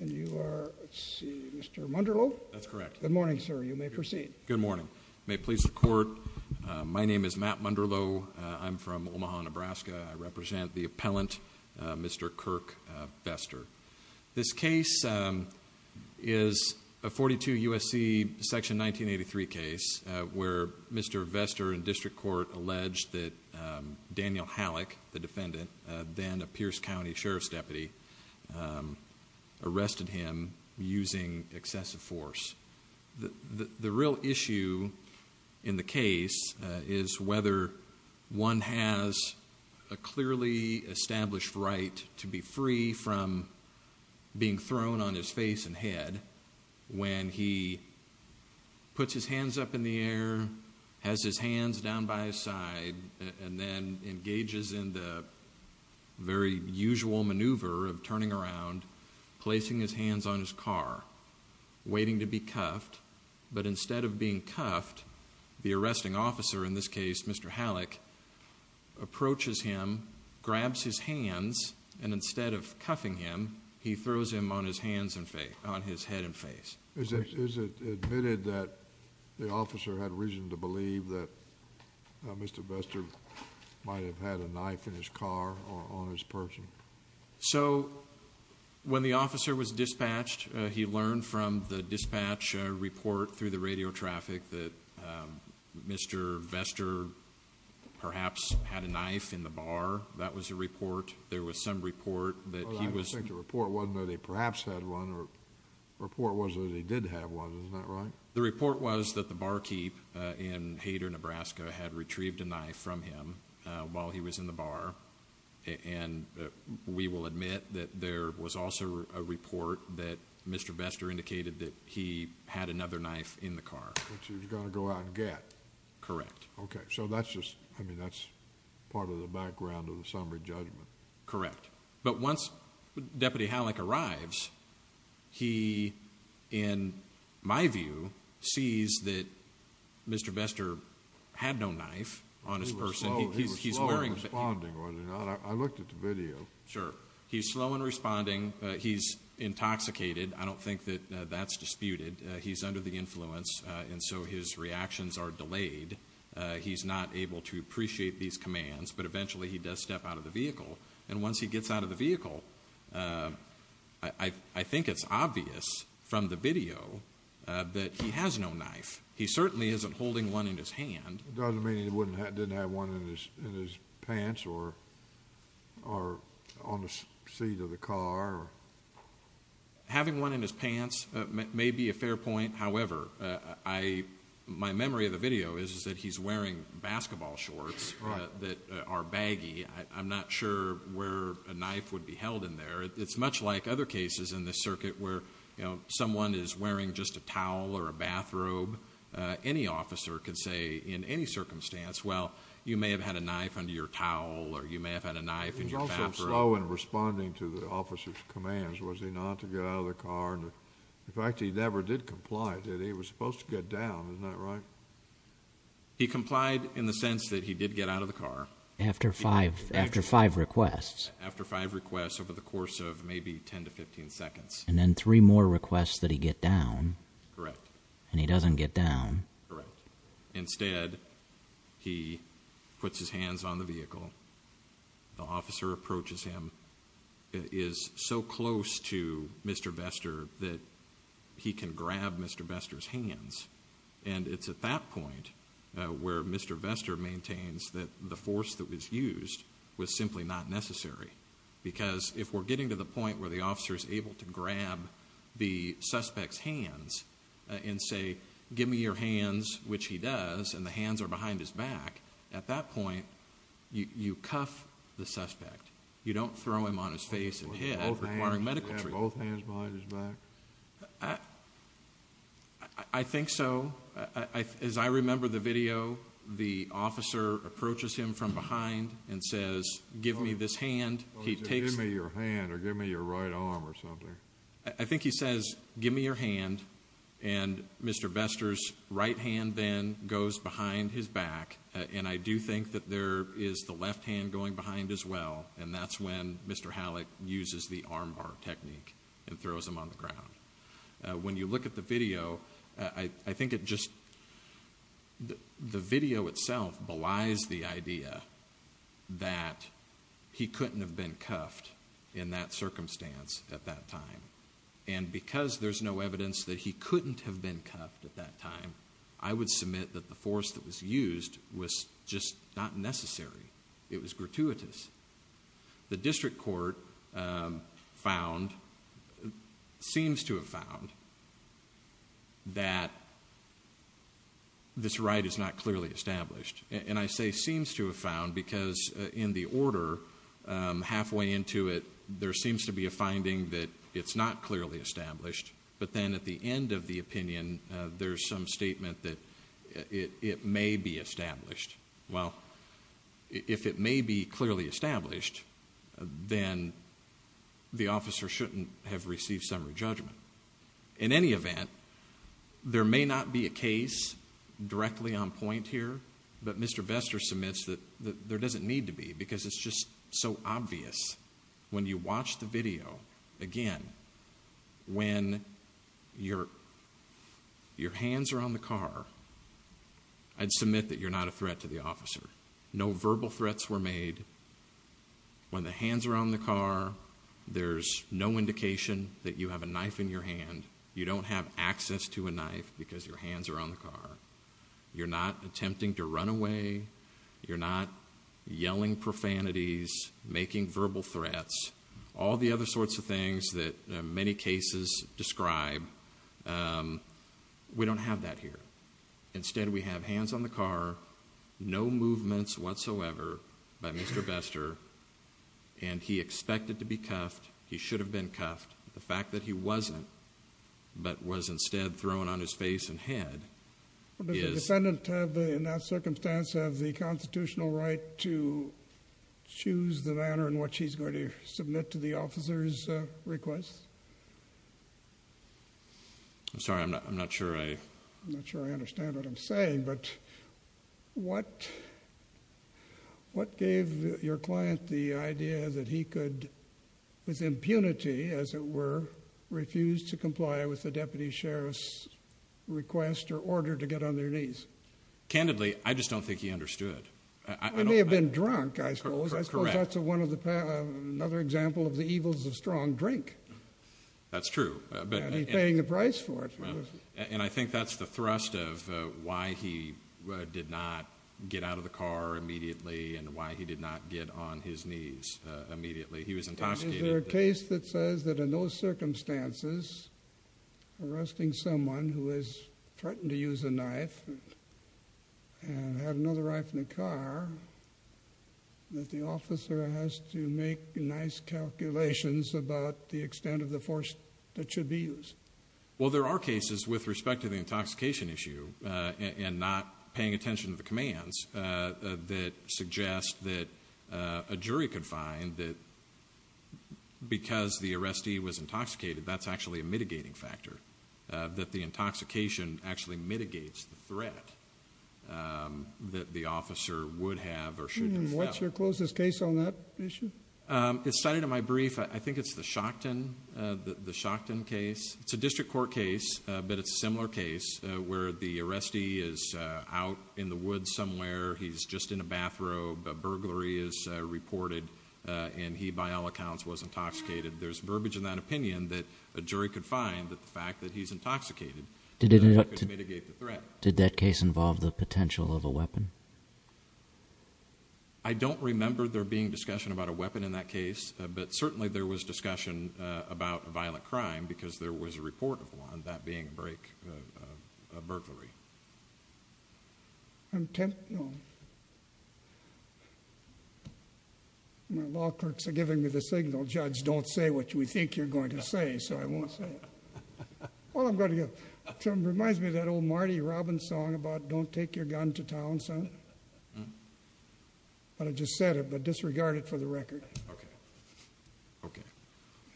And you are, let's see, Mr. Munderloh? That's correct. Good morning, sir. You may proceed. Good morning. May it please the court. My name is Matt Munderloh. I'm from Omaha, Nebraska. I represent the appellant, Mr. Kirk Vester. This case is a 42 U.S.C. Section 1983 case where Mr. Vester in district court alleged that Daniel Hallock, the defendant, then a Pierce County sheriff's deputy, arrested him using excessive force. The real issue in the case is whether one has a clearly established right to be free from being thrown on his face and head when he puts his hands up in the air, has his hands down by his side, and then engages in the very usual maneuver of turning around, placing his hands on his car, waiting to be cuffed. But instead of being cuffed, the arresting officer, in this case, Mr. Hallock, approaches him, grabs his hands, and instead of cuffing him, he throws him on his head and face. Is it admitted that the officer had reason to believe that Mr. Vester might have had a knife in his car or on his person? So when the officer was dispatched, he learned from the dispatch report through the radio traffic that Mr. Vester perhaps had a knife in the bar. That was a report. There was some report that he was... I think the report wasn't that he perhaps had one. The report was that he did have one. Isn't that right? The report was that the barkeep in Hayter, Nebraska, had retrieved a knife from him while he was in the bar. And we will admit that there was also a report that Mr. Vester indicated that he had another knife in the car. Which he was going to go out and get. Correct. Okay. So that's just... I mean, that's part of the background of the summary judgment. Correct. But once Deputy Halleck arrives, he, in my view, sees that Mr. Vester had no knife on his person. He was slow in responding, was he not? I looked at the video. Sure. He's slow in responding. He's intoxicated. I don't think that that's disputed. He's under the influence. And so his reactions are delayed. He's not able to appreciate these commands. But eventually, he does step out of the vehicle. And once he gets out of the vehicle, I think it's obvious from the video that he has no knife. He certainly isn't holding one in his hand. Doesn't mean he didn't have one in his pants or on the seat of the car. Having one in his pants may be a fair point. However, my memory of the video is that he's wearing basketball shorts that are baggy. I'm not sure where a knife would be held in there. It's much like other cases in this circuit where, you know, someone is wearing just a towel or a bathrobe. Any officer could say in any circumstance, well, you may have had a knife under your towel, or you may have had a knife in your bathroom. He was also slow in responding to the officer's commands, was he not, to get out of the car. In fact, he never did comply, did he? He was supposed to get down, isn't that right? He complied in the sense that he did get out of the car. After five requests. After five requests over the course of maybe 10 to 15 seconds. And then three more requests that he get down. Correct. And he doesn't get down. Correct. Instead, he puts his hands on the vehicle. The officer approaches him. And it's at that point where Mr. Vester maintains that the force that was used was simply not necessary. Because if we're getting to the point where the officer is able to grab the suspect's hands and say, give me your hands, which he does, and the hands are behind his back. At that point, you cuff the suspect. You don't throw him on his face and hit him requiring medical treatment. Both hands behind his back? I think so. As I remember the video, the officer approaches him from behind and says, give me this hand. He takes it. Give me your hand or give me your right arm or something. I think he says, give me your hand. And Mr. Vester's right hand then goes behind his back. And I do think that there is the left hand going behind as well. And that's when Mr. Halleck uses the arm bar technique and throws him on the ground. When you look at the video, I think it just, the video itself belies the idea that he couldn't have been cuffed in that circumstance at that time. And because there's no evidence that he couldn't have been cuffed at that time, I would submit that the force that was used was just not necessary. It was gratuitous. The district court found, seems to have found, that this right is not clearly established. And I say seems to have found because in the order halfway into it, there seems to be a finding that it's not clearly established. But then at the end of the opinion, there's some statement that it may be established. Well, if it may be clearly established, then the officer shouldn't have received summary judgment. In any event, there may not be a case directly on point here, but Mr. Vester submits that there doesn't need to be because it's just so obvious. When you watch the video again, when your hands are on the car, I'd submit that you're not a threat to the officer. No verbal threats were made. When the hands are on the car, there's no indication that you have a knife in your hand. You don't have access to a knife because your hands are on the car. You're not attempting to run away. You're not yelling profanities, making verbal threats, all the other sorts of things that many cases describe. We don't have that here. Instead, we have hands on the car, no movements whatsoever by Mr. Vester. And he expected to be cuffed. He should have been cuffed. The fact that he wasn't, but was instead thrown on his face and head is- Does the defendant in that circumstance have the constitutional right to choose the manner in which he's going to submit to the officer's request? I'm sorry, I'm not sure I- I'm not sure I understand what I'm saying. But what gave your client the idea that he could, with impunity as it were, refuse to comply with the deputy sheriff's request or order to get on their knees? Candidly, I just don't think he understood. He may have been drunk, I suppose. I suppose that's another example of the evils of strong drink. That's true. And he's paying the price for it. And I think that's the thrust of why he did not get out of the car immediately and why he did not get on his knees immediately. He was intoxicated. Is there a case that says that in those circumstances, arresting someone who has threatened to use a knife and have another rifle in the car, that the officer has to make nice calculations about the extent of the force that should be used? Well, there are cases with respect to the intoxication issue and not paying attention to the commands that suggest that a jury could find that because the arrestee was intoxicated, that's actually a mitigating factor, that the intoxication actually mitigates the threat that the officer would have or should have felt. And what's your closest case on that issue? It's cited in my brief. I think it's the Shockton case. It's a district court case, but it's a similar case where the arrestee is out in the woods somewhere. He's just in a bathrobe. A burglary is reported. And he, by all accounts, was intoxicated. There's verbiage in that opinion that a jury could find that the fact that he's intoxicated could mitigate the threat. Did that case involve the potential of a weapon? I don't remember there being discussion about a weapon in that case, but certainly there was discussion about a violent crime because there was a report of one, that being a break, a burglary. My law clerks are giving me the signal, Judge, don't say what you think you're going to say, so I won't say it. Well, I'm going to go. It reminds me of that old Marty Robbins song about, don't take your gun to town, son. But I just said it, but disregard it for the record. Okay. Okay.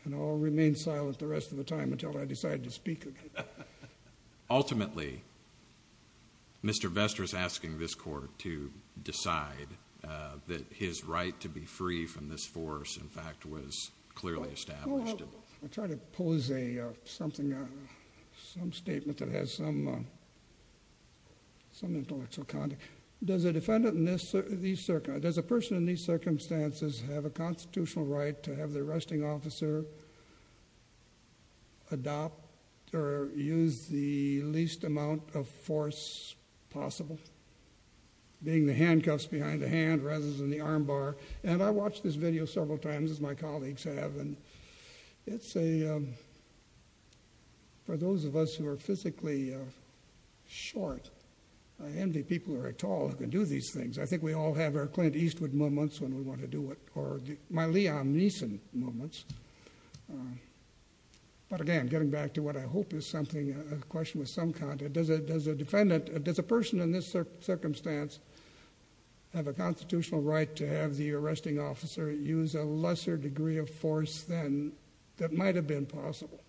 And I'll remain silent the rest of the time until I decide to speak again. Ultimately, Mr. Vester is asking this court to decide that his right to be free from this force, in fact, was clearly established. I'll try to pose something, some statement that has some intellectual content. Does a person in these circumstances have a constitutional right to have their arresting officer adopt or use the least amount of force possible, being the handcuffs behind the hand rather than the armbar? And I watched this video several times, as my colleagues have, and it's a, for those of us who are physically short, I envy people who are tall who can do these things. I think we all have our Clint Eastwood moments when we want to do it, or my Leon Mason moments. But again, getting back to what I hope is something, a question with some content, does a defendant, does a person in this circumstance have a constitutional right to have the arresting officer use a lesser degree of force than, that might have been possible,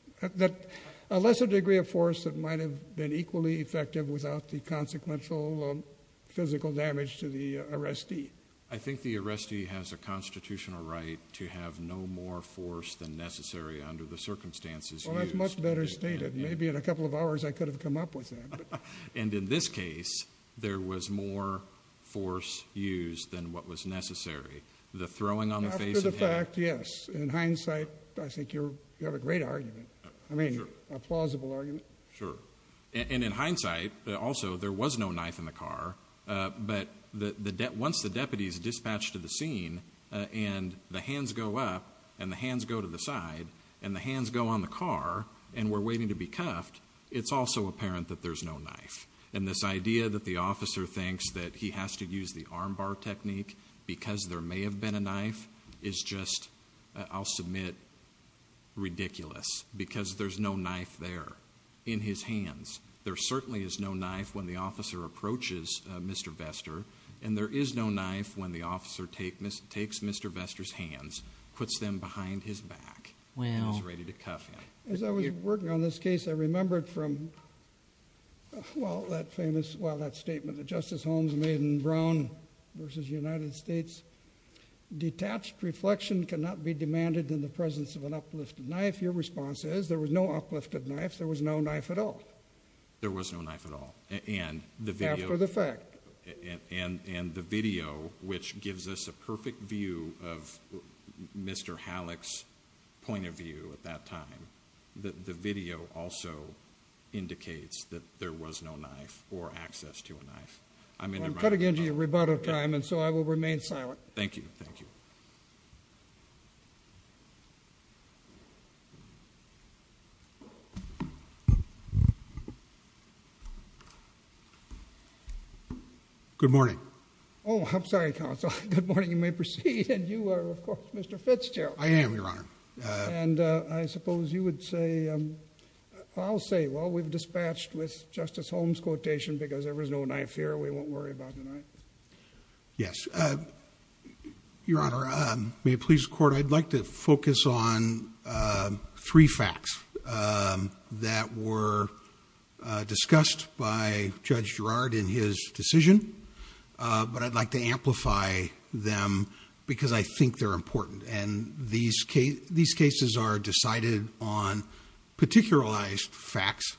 a lesser degree of force that might have been equally effective without the consequential physical damage to the arrestee? I think the arrestee has a constitutional right to have no more force than necessary under the circumstances used. Well, that's much better stated. Maybe in a couple of hours I could have come up with that. And in this case, there was more force used than what was necessary. The throwing on the face of the hand. After the fact, yes. In hindsight, I think you have a great argument. I mean, a plausible argument. Sure. And in hindsight, also, there was no knife in the car. But once the deputy is dispatched to the scene, and the hands go up, and the hands go to the side, and the hands go on the car, and we're waiting to be cuffed, it's also apparent that there's no knife. And this idea that the officer thinks that he has to use the armbar technique because there may have been a knife is just, I'll submit, ridiculous. Because there's no knife there in his hands. There certainly is no knife when the officer approaches Mr. Vester. And there is no knife when the officer takes Mr. Vester's hands, puts them behind his back, and is ready to cuff him. As I was working on this case, I remembered from that famous statement that Justice Holmes made in Brown v. United States, detached reflection cannot be demanded in the presence of an uplifted knife. Your response is, there was no uplifted knife. There was no knife at all. There was no knife at all. And the video- After the fact. And the video, which gives us a perfect view of Mr. Halleck's point of view at that time, the video also indicates that there was no knife or access to a knife. I'm interrupting. I'm cutting into your rebuttal time, and so I will remain silent. Thank you. Thank you. Good morning. Oh, I'm sorry, counsel. Good morning. You may proceed. And you are, of course, Mr. Fitzgerald. I am, Your Honor. And I suppose you would say, I'll say, well, we've dispatched with Justice Holmes quotation because there was no knife here, we won't worry about the knife. Yes. Your Honor, may it please the court, I'd like to focus on three facts that were discussed by Judge Girard in his decision. But I'd like to amplify them because I think they're important. And these cases are decided on particularized facts.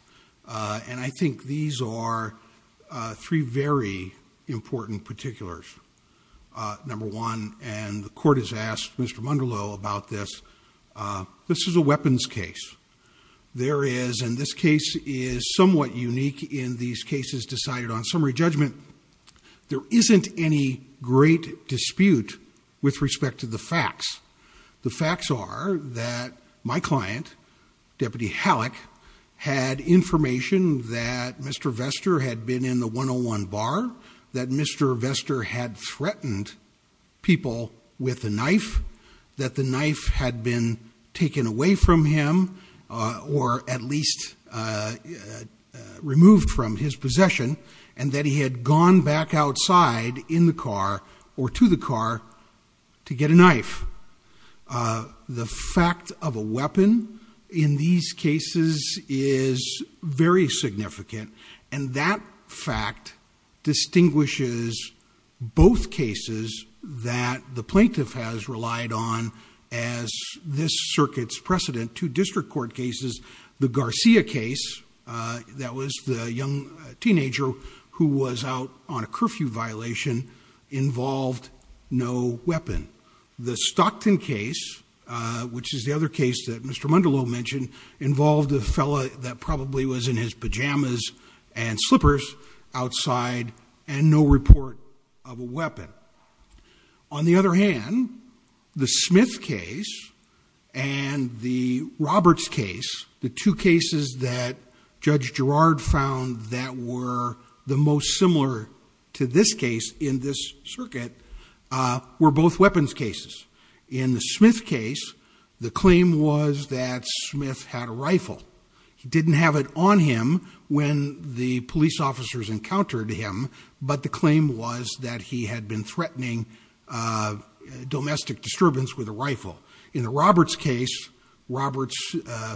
And I think these are three very important particulars. Number one, and the court has asked Mr. Munderloh about this, this is a weapons case. There is, and this case is somewhat unique in these cases decided on summary judgment. There isn't any great dispute with respect to the facts. The facts are that my client, Deputy Halleck, had information that Mr. Vester had been in the 101 bar, that Mr. Vester had threatened people with a knife, that the knife had been taken away from him or at least removed from his possession. And that he had gone back outside in the car or to the car to get a knife. The fact of a weapon in these cases is very significant. And that fact distinguishes both cases that the plaintiff has relied on as this circuit's precedent. Two district court cases, the Garcia case, that was the young teenager who was out on a curfew violation, involved no weapon. The Stockton case, which is the other case that Mr. Munderloh mentioned, involved a fella that probably was in his pajamas and slippers outside and no report of a weapon. On the other hand, the Smith case and the Roberts case, the two cases that Judge Gerard found that were the most similar to this case in this circuit, were both weapons cases. In the Smith case, the claim was that Smith had a rifle. He didn't have it on him when the police officers encountered him, but the claim was that he had been threatening domestic disturbance with a rifle. In the Roberts case, Roberts'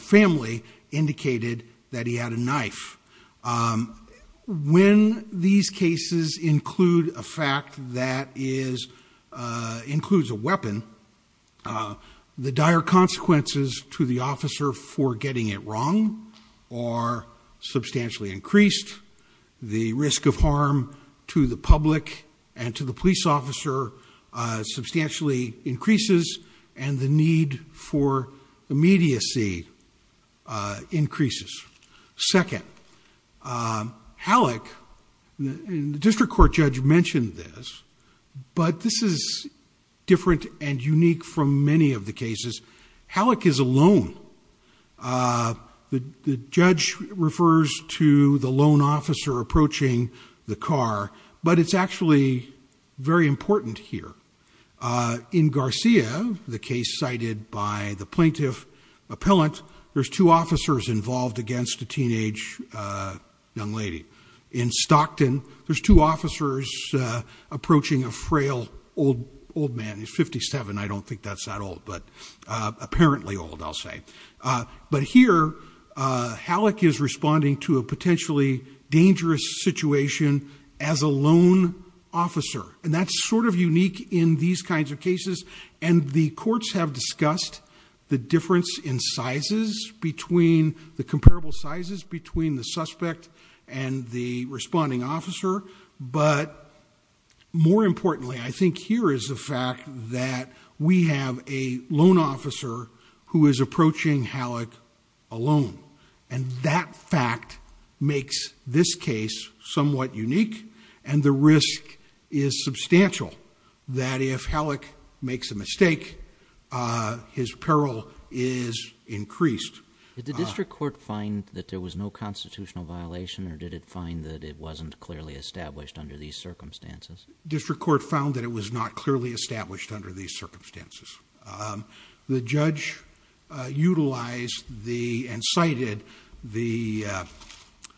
family indicated that he had a knife. When these cases include a fact that includes a weapon, the dire consequences to the officer for getting it wrong are substantially increased. The risk of harm to the public and to the police officer substantially increases and the need for immediacy increases. Second, Halleck, the district court judge mentioned this, but this is different and unique from many of the cases. Halleck is alone. The judge refers to the lone officer approaching the car, but it's actually very important here. In Garcia, the case cited by the plaintiff appellant, there's two officers involved against a teenage young lady. In Stockton, there's two officers approaching a frail old man. He's 57, I don't think that's that old, but apparently old, I'll say. But here, Halleck is responding to a potentially dangerous situation as a lone officer, and that's sort of unique in these kinds of cases. And the courts have discussed the difference in sizes between, the comparable sizes between the suspect and the responding officer. But more importantly, I think here is the fact that we have a lone officer who is approaching Halleck alone. And that fact makes this case somewhat unique, and the risk is substantial that if Halleck makes a mistake, his peril is increased. Did the district court find that there was no constitutional violation, or did it find that it wasn't clearly established under these circumstances? District court found that it was not clearly established under these circumstances. The judge utilized and cited the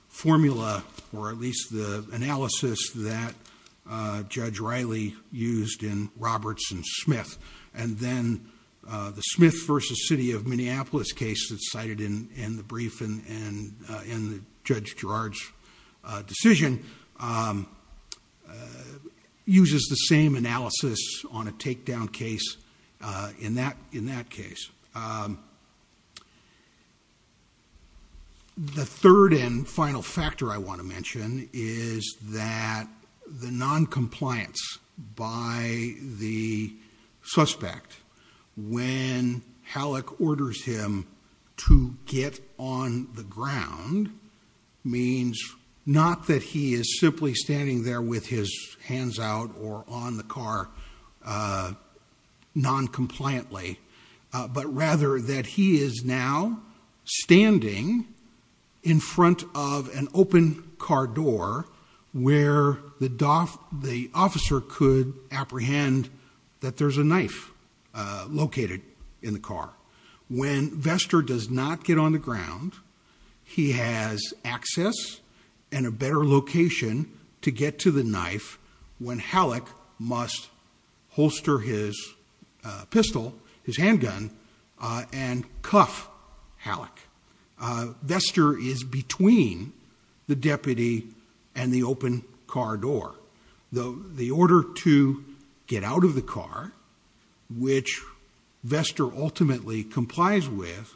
formula, or at least the analysis that Judge Riley used in Roberts and Smith. And then the Smith versus City of Minneapolis case that's cited in the brief in Judge Gerard's decision uses the same analysis on a takedown case in that case. The third and final factor I wanna mention is that the noncompliance by the suspect when Halleck orders him to get on the ground means not that he is simply standing there with his hands out or on the car noncompliantly, but rather that he is now standing in front of an open car door where the officer could apprehend that there's a knife located in the car. When Vester does not get on the ground, he has access and a better location to get to the knife when Halleck must holster his pistol, his handgun, and cuff Halleck. Vester is between the deputy and the open car door. The order to get out of the car, which Vester ultimately complies with,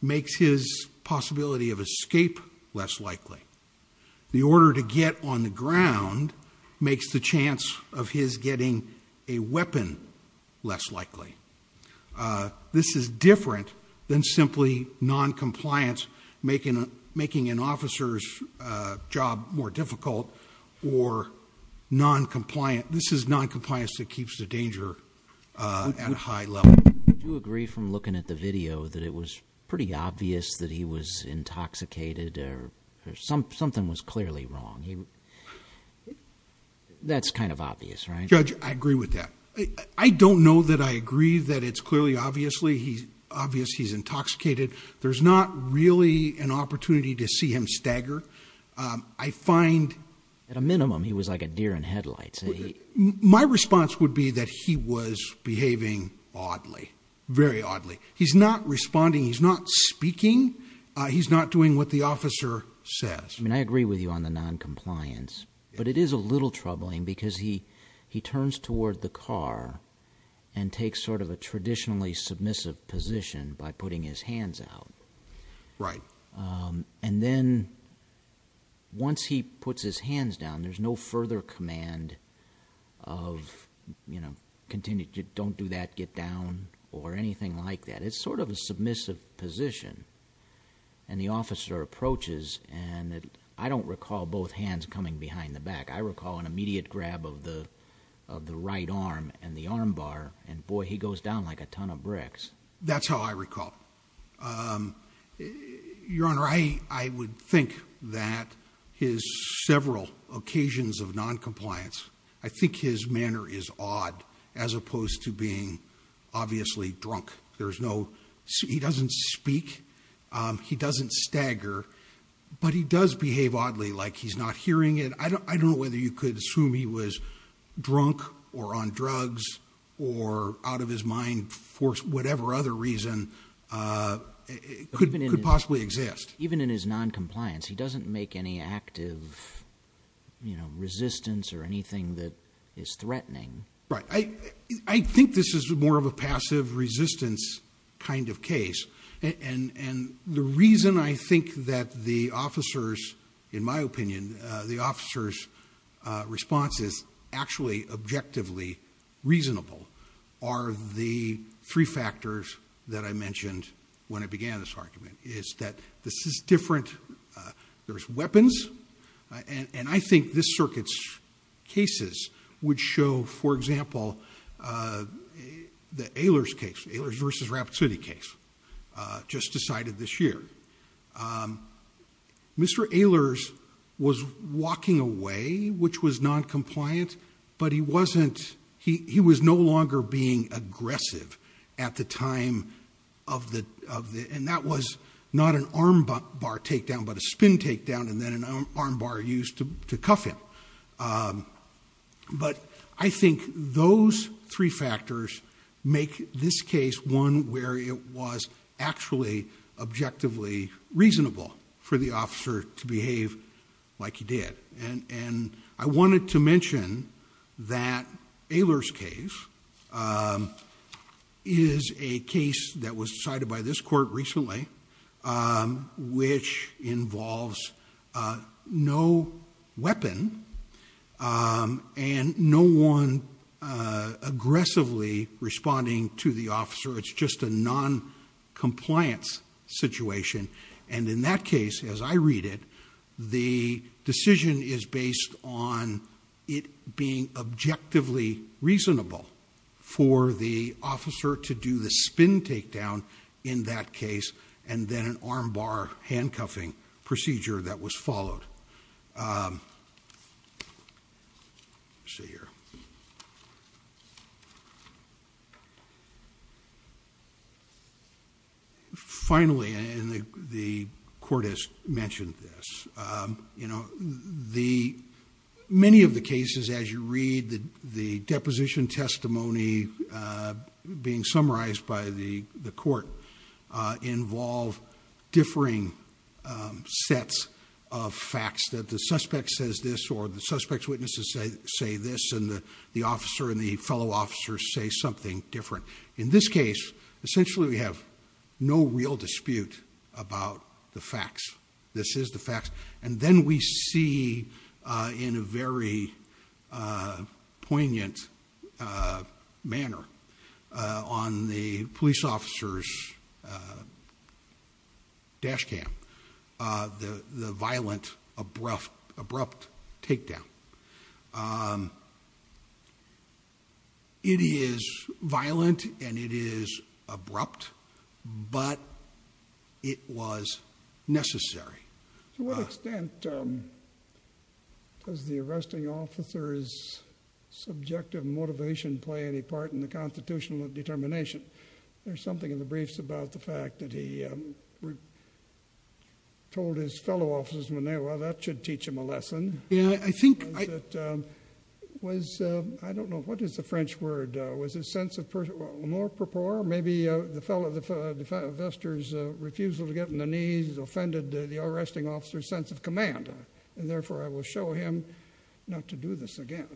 makes his possibility of escape less likely. The order to get on the ground makes the chance of his getting a weapon less likely. This is different than simply noncompliance, making an officer's job more difficult or noncompliant, this is noncompliance that keeps the danger at a high level. Do you agree from looking at the video that it was pretty obvious that he was intoxicated or something was clearly wrong, that's kind of obvious, right? Judge, I agree with that. I don't know that I agree that it's clearly obvious he's intoxicated. There's not really an opportunity to see him stagger. I find- At a minimum, he was like a deer in headlights. My response would be that he was behaving oddly, very oddly. He's not responding, he's not speaking, he's not doing what the officer says. I mean, I agree with you on the noncompliance. But it is a little troubling because he turns toward the car and takes sort of a traditionally submissive position by putting his hands out. Right. And then once he puts his hands down, there's no further command of, you know, continue, don't do that, get down, or anything like that. It's sort of a submissive position. And the officer approaches, and I don't recall both hands coming behind the back. I recall an immediate grab of the right arm and the arm bar. And boy, he goes down like a ton of bricks. That's how I recall. Your Honor, I would think that his several occasions of noncompliance, I think his manner is odd as opposed to being obviously drunk. There's no, he doesn't speak, he doesn't stagger. But he does behave oddly, like he's not hearing it. I don't know whether you could assume he was drunk or on drugs or out of his mind for whatever other reason could possibly exist. Even in his noncompliance, he doesn't make any active resistance or anything that is threatening. Right. I think this is more of a passive resistance kind of case. And the reason I think that the officers, in my opinion, the officers' response is actually objectively reasonable are the three factors that I mentioned when I began this argument, is that this is different. There's weapons. And I think this circuit's cases would show, for example, the Ehlers case, Ehlers versus Rappaport case, just decided this year. Mr. Ehlers was walking away, which was noncompliant, but he wasn't, he was no longer being aggressive at the time of the, and that was not an arm bar takedown, but a spin takedown, and then an arm bar used to cuff him. But I think those three factors make this case one where it was actually objectively reasonable for the officer to behave like he did. And I wanted to mention that Ehlers case is a case that was decided by this court recently, which involves no weapon and no one aggressively responding to the officer. It's just a noncompliance situation. And in that case, as I read it, the decision is based on it being objectively reasonable for the officer to do the spin takedown in that case, and then an arm bar handcuffing procedure that was followed. Let's see here. Finally, and the court has mentioned this, you know, many of the cases, as you read, the deposition testimony being summarized by the court, involve differing sets of facts that the suspect says this, or the suspect's witnesses say this, and the officer and the fellow officers say something different. In this case, essentially, we have no real dispute about the facts. This is the facts. And then we see, in a very poignant manner, on the police officer's dash cam, the violent, abrupt takedown. It is violent, and it is abrupt, but it was necessary. To what extent does the arresting officer's subjective motivation play any part in the constitutional determination? There's something in the briefs about the fact that he told his fellow officers, well, that should teach him a lesson. Yeah, I think I... Was, I don't know, what is the French word? Was his sense of... Or maybe the fellow, the officer's refusal to get on the knees offended the arresting officer's sense of command, and therefore, I will show him not to do this again.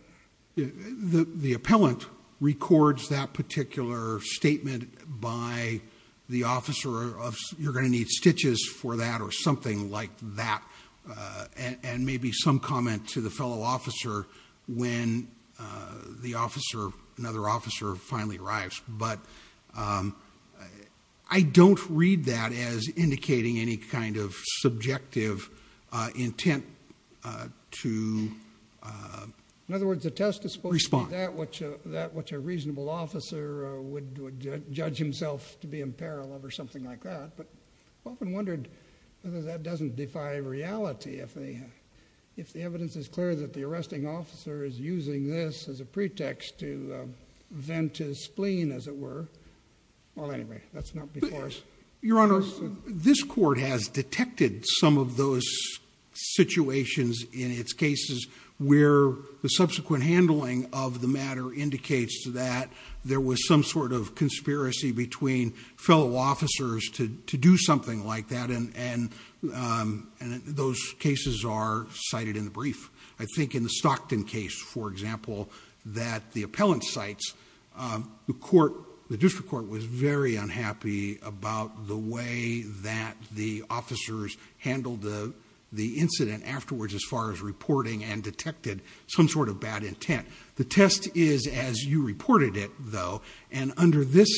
The appellant records that particular statement by the officer of, you're going to need stitches for that, or something like that, and maybe some comment to the fellow officer when the officer, another officer, finally arrives. But I don't read that as indicating any kind of subjective intent to... In other words, the test is supposed to be that which a reasonable officer would judge himself to be in peril of, or something like that. But I've often wondered whether that doesn't defy reality, if the evidence is clear that the arresting officer is using this as a pretext to vent his spleen, as it were. Well, anyway, that's not before us. Your Honor, this court has detected some of those situations in its cases where the subsequent handling of the matter indicates that there was some sort of conspiracy between fellow officers to do something like that, and those cases are cited in the brief. I think in the Stockton case, for example, that the appellant cites the court, the district court was very unhappy about the way that the officers handled the incident afterwards as far as reporting and detected some sort of bad intent. The test is as you reported it, though, and under this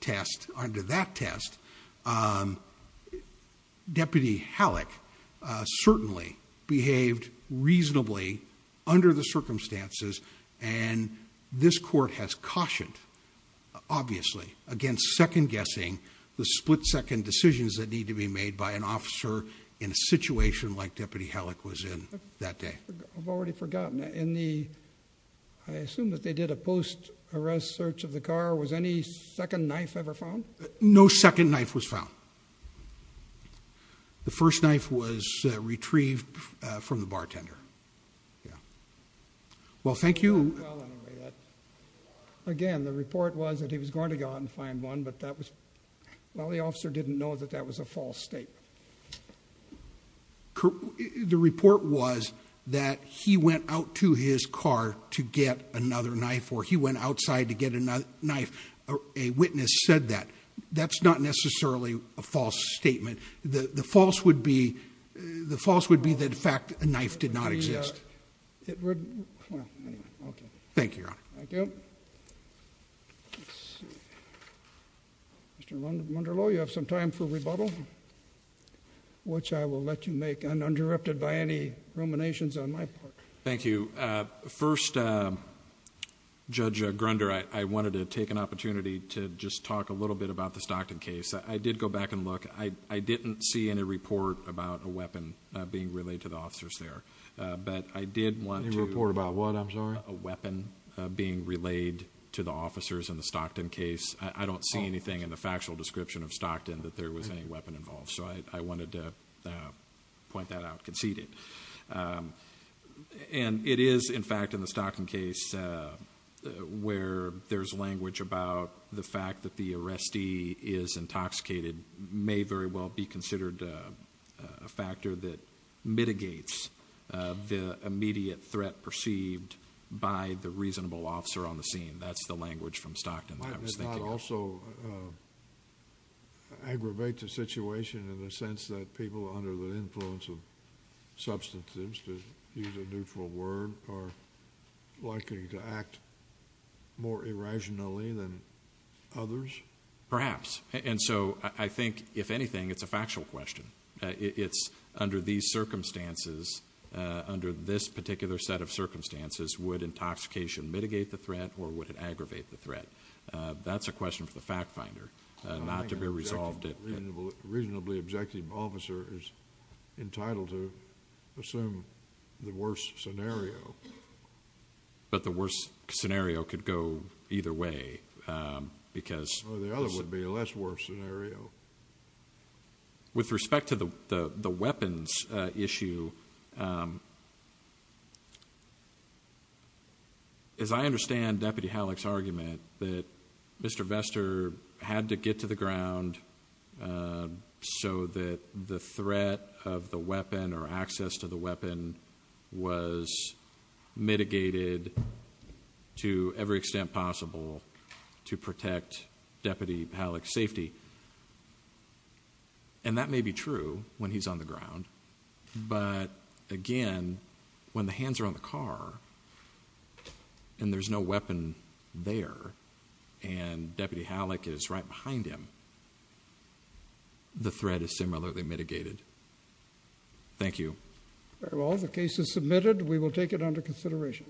test, under that test, Deputy Halleck certainly behaved reasonably under the circumstances, and this court has cautioned, obviously, against second-guessing the split-second decisions that need to be made by an officer in a situation like Deputy Halleck was in that day. I've already forgotten. I assume that they did a post-arrest search of the car. Was any second knife ever found? No second knife was found. The first knife was retrieved from the bartender. Well, thank you. Again, the report was that he was going to go out and find one, but that was, well, the officer didn't know that that was a false state. The report was that he went out to his car to get another knife, or he went outside to get another knife. A witness said that. That's not necessarily a false statement. The false would be that, in fact, a knife did not exist. Thank you, Your Honor. Mr. Munderloh, you have some time for rebuttal, which I will let you make uninterrupted by any ruminations on my part. Thank you. First, Judge Grunder, I wanted to take an opportunity to just talk a little bit about the Stockton case. I did go back and look. I didn't see any report about a weapon being relayed to the officers there. But I did want to report a weapon being relayed to the officers in the Stockton case. I don't see anything in the factual description of Stockton that there was any weapon involved. So I wanted to point that out conceded. And it is, in fact, in the Stockton case, where there's language about the fact that the arrestee is intoxicated may very well be considered a factor that mitigates the immediate threat perceived by the reasonable officer on the scene. That's the language from Stockton that I was thinking of. Might that not also aggravate the situation in the sense that people under the influence of substances, to use a neutral word, are likely to act more irrationally than others? Perhaps. And so I think, if anything, it's a factual question. It's under these circumstances, under this particular set of circumstances, would intoxication mitigate the threat or would it aggravate the threat? That's a question for the fact finder not to be resolved. A reasonably objective officer is entitled to assume the worst scenario. But the worst scenario could go either way because... Or the other would be a less worse scenario. With respect to the weapons issue, as I understand Deputy Halleck's argument that Mr. Vester had to get to the ground so that the threat of the weapon or access to the weapon was mitigated to every extent possible to protect Deputy Halleck's safety. And that may be true when he's on the ground. But again, when the hands are on the car and there's no weapon there and Deputy Halleck is right behind him, the threat is similarly mitigated. Thank you. Very well. The case is submitted. We will take it under consideration.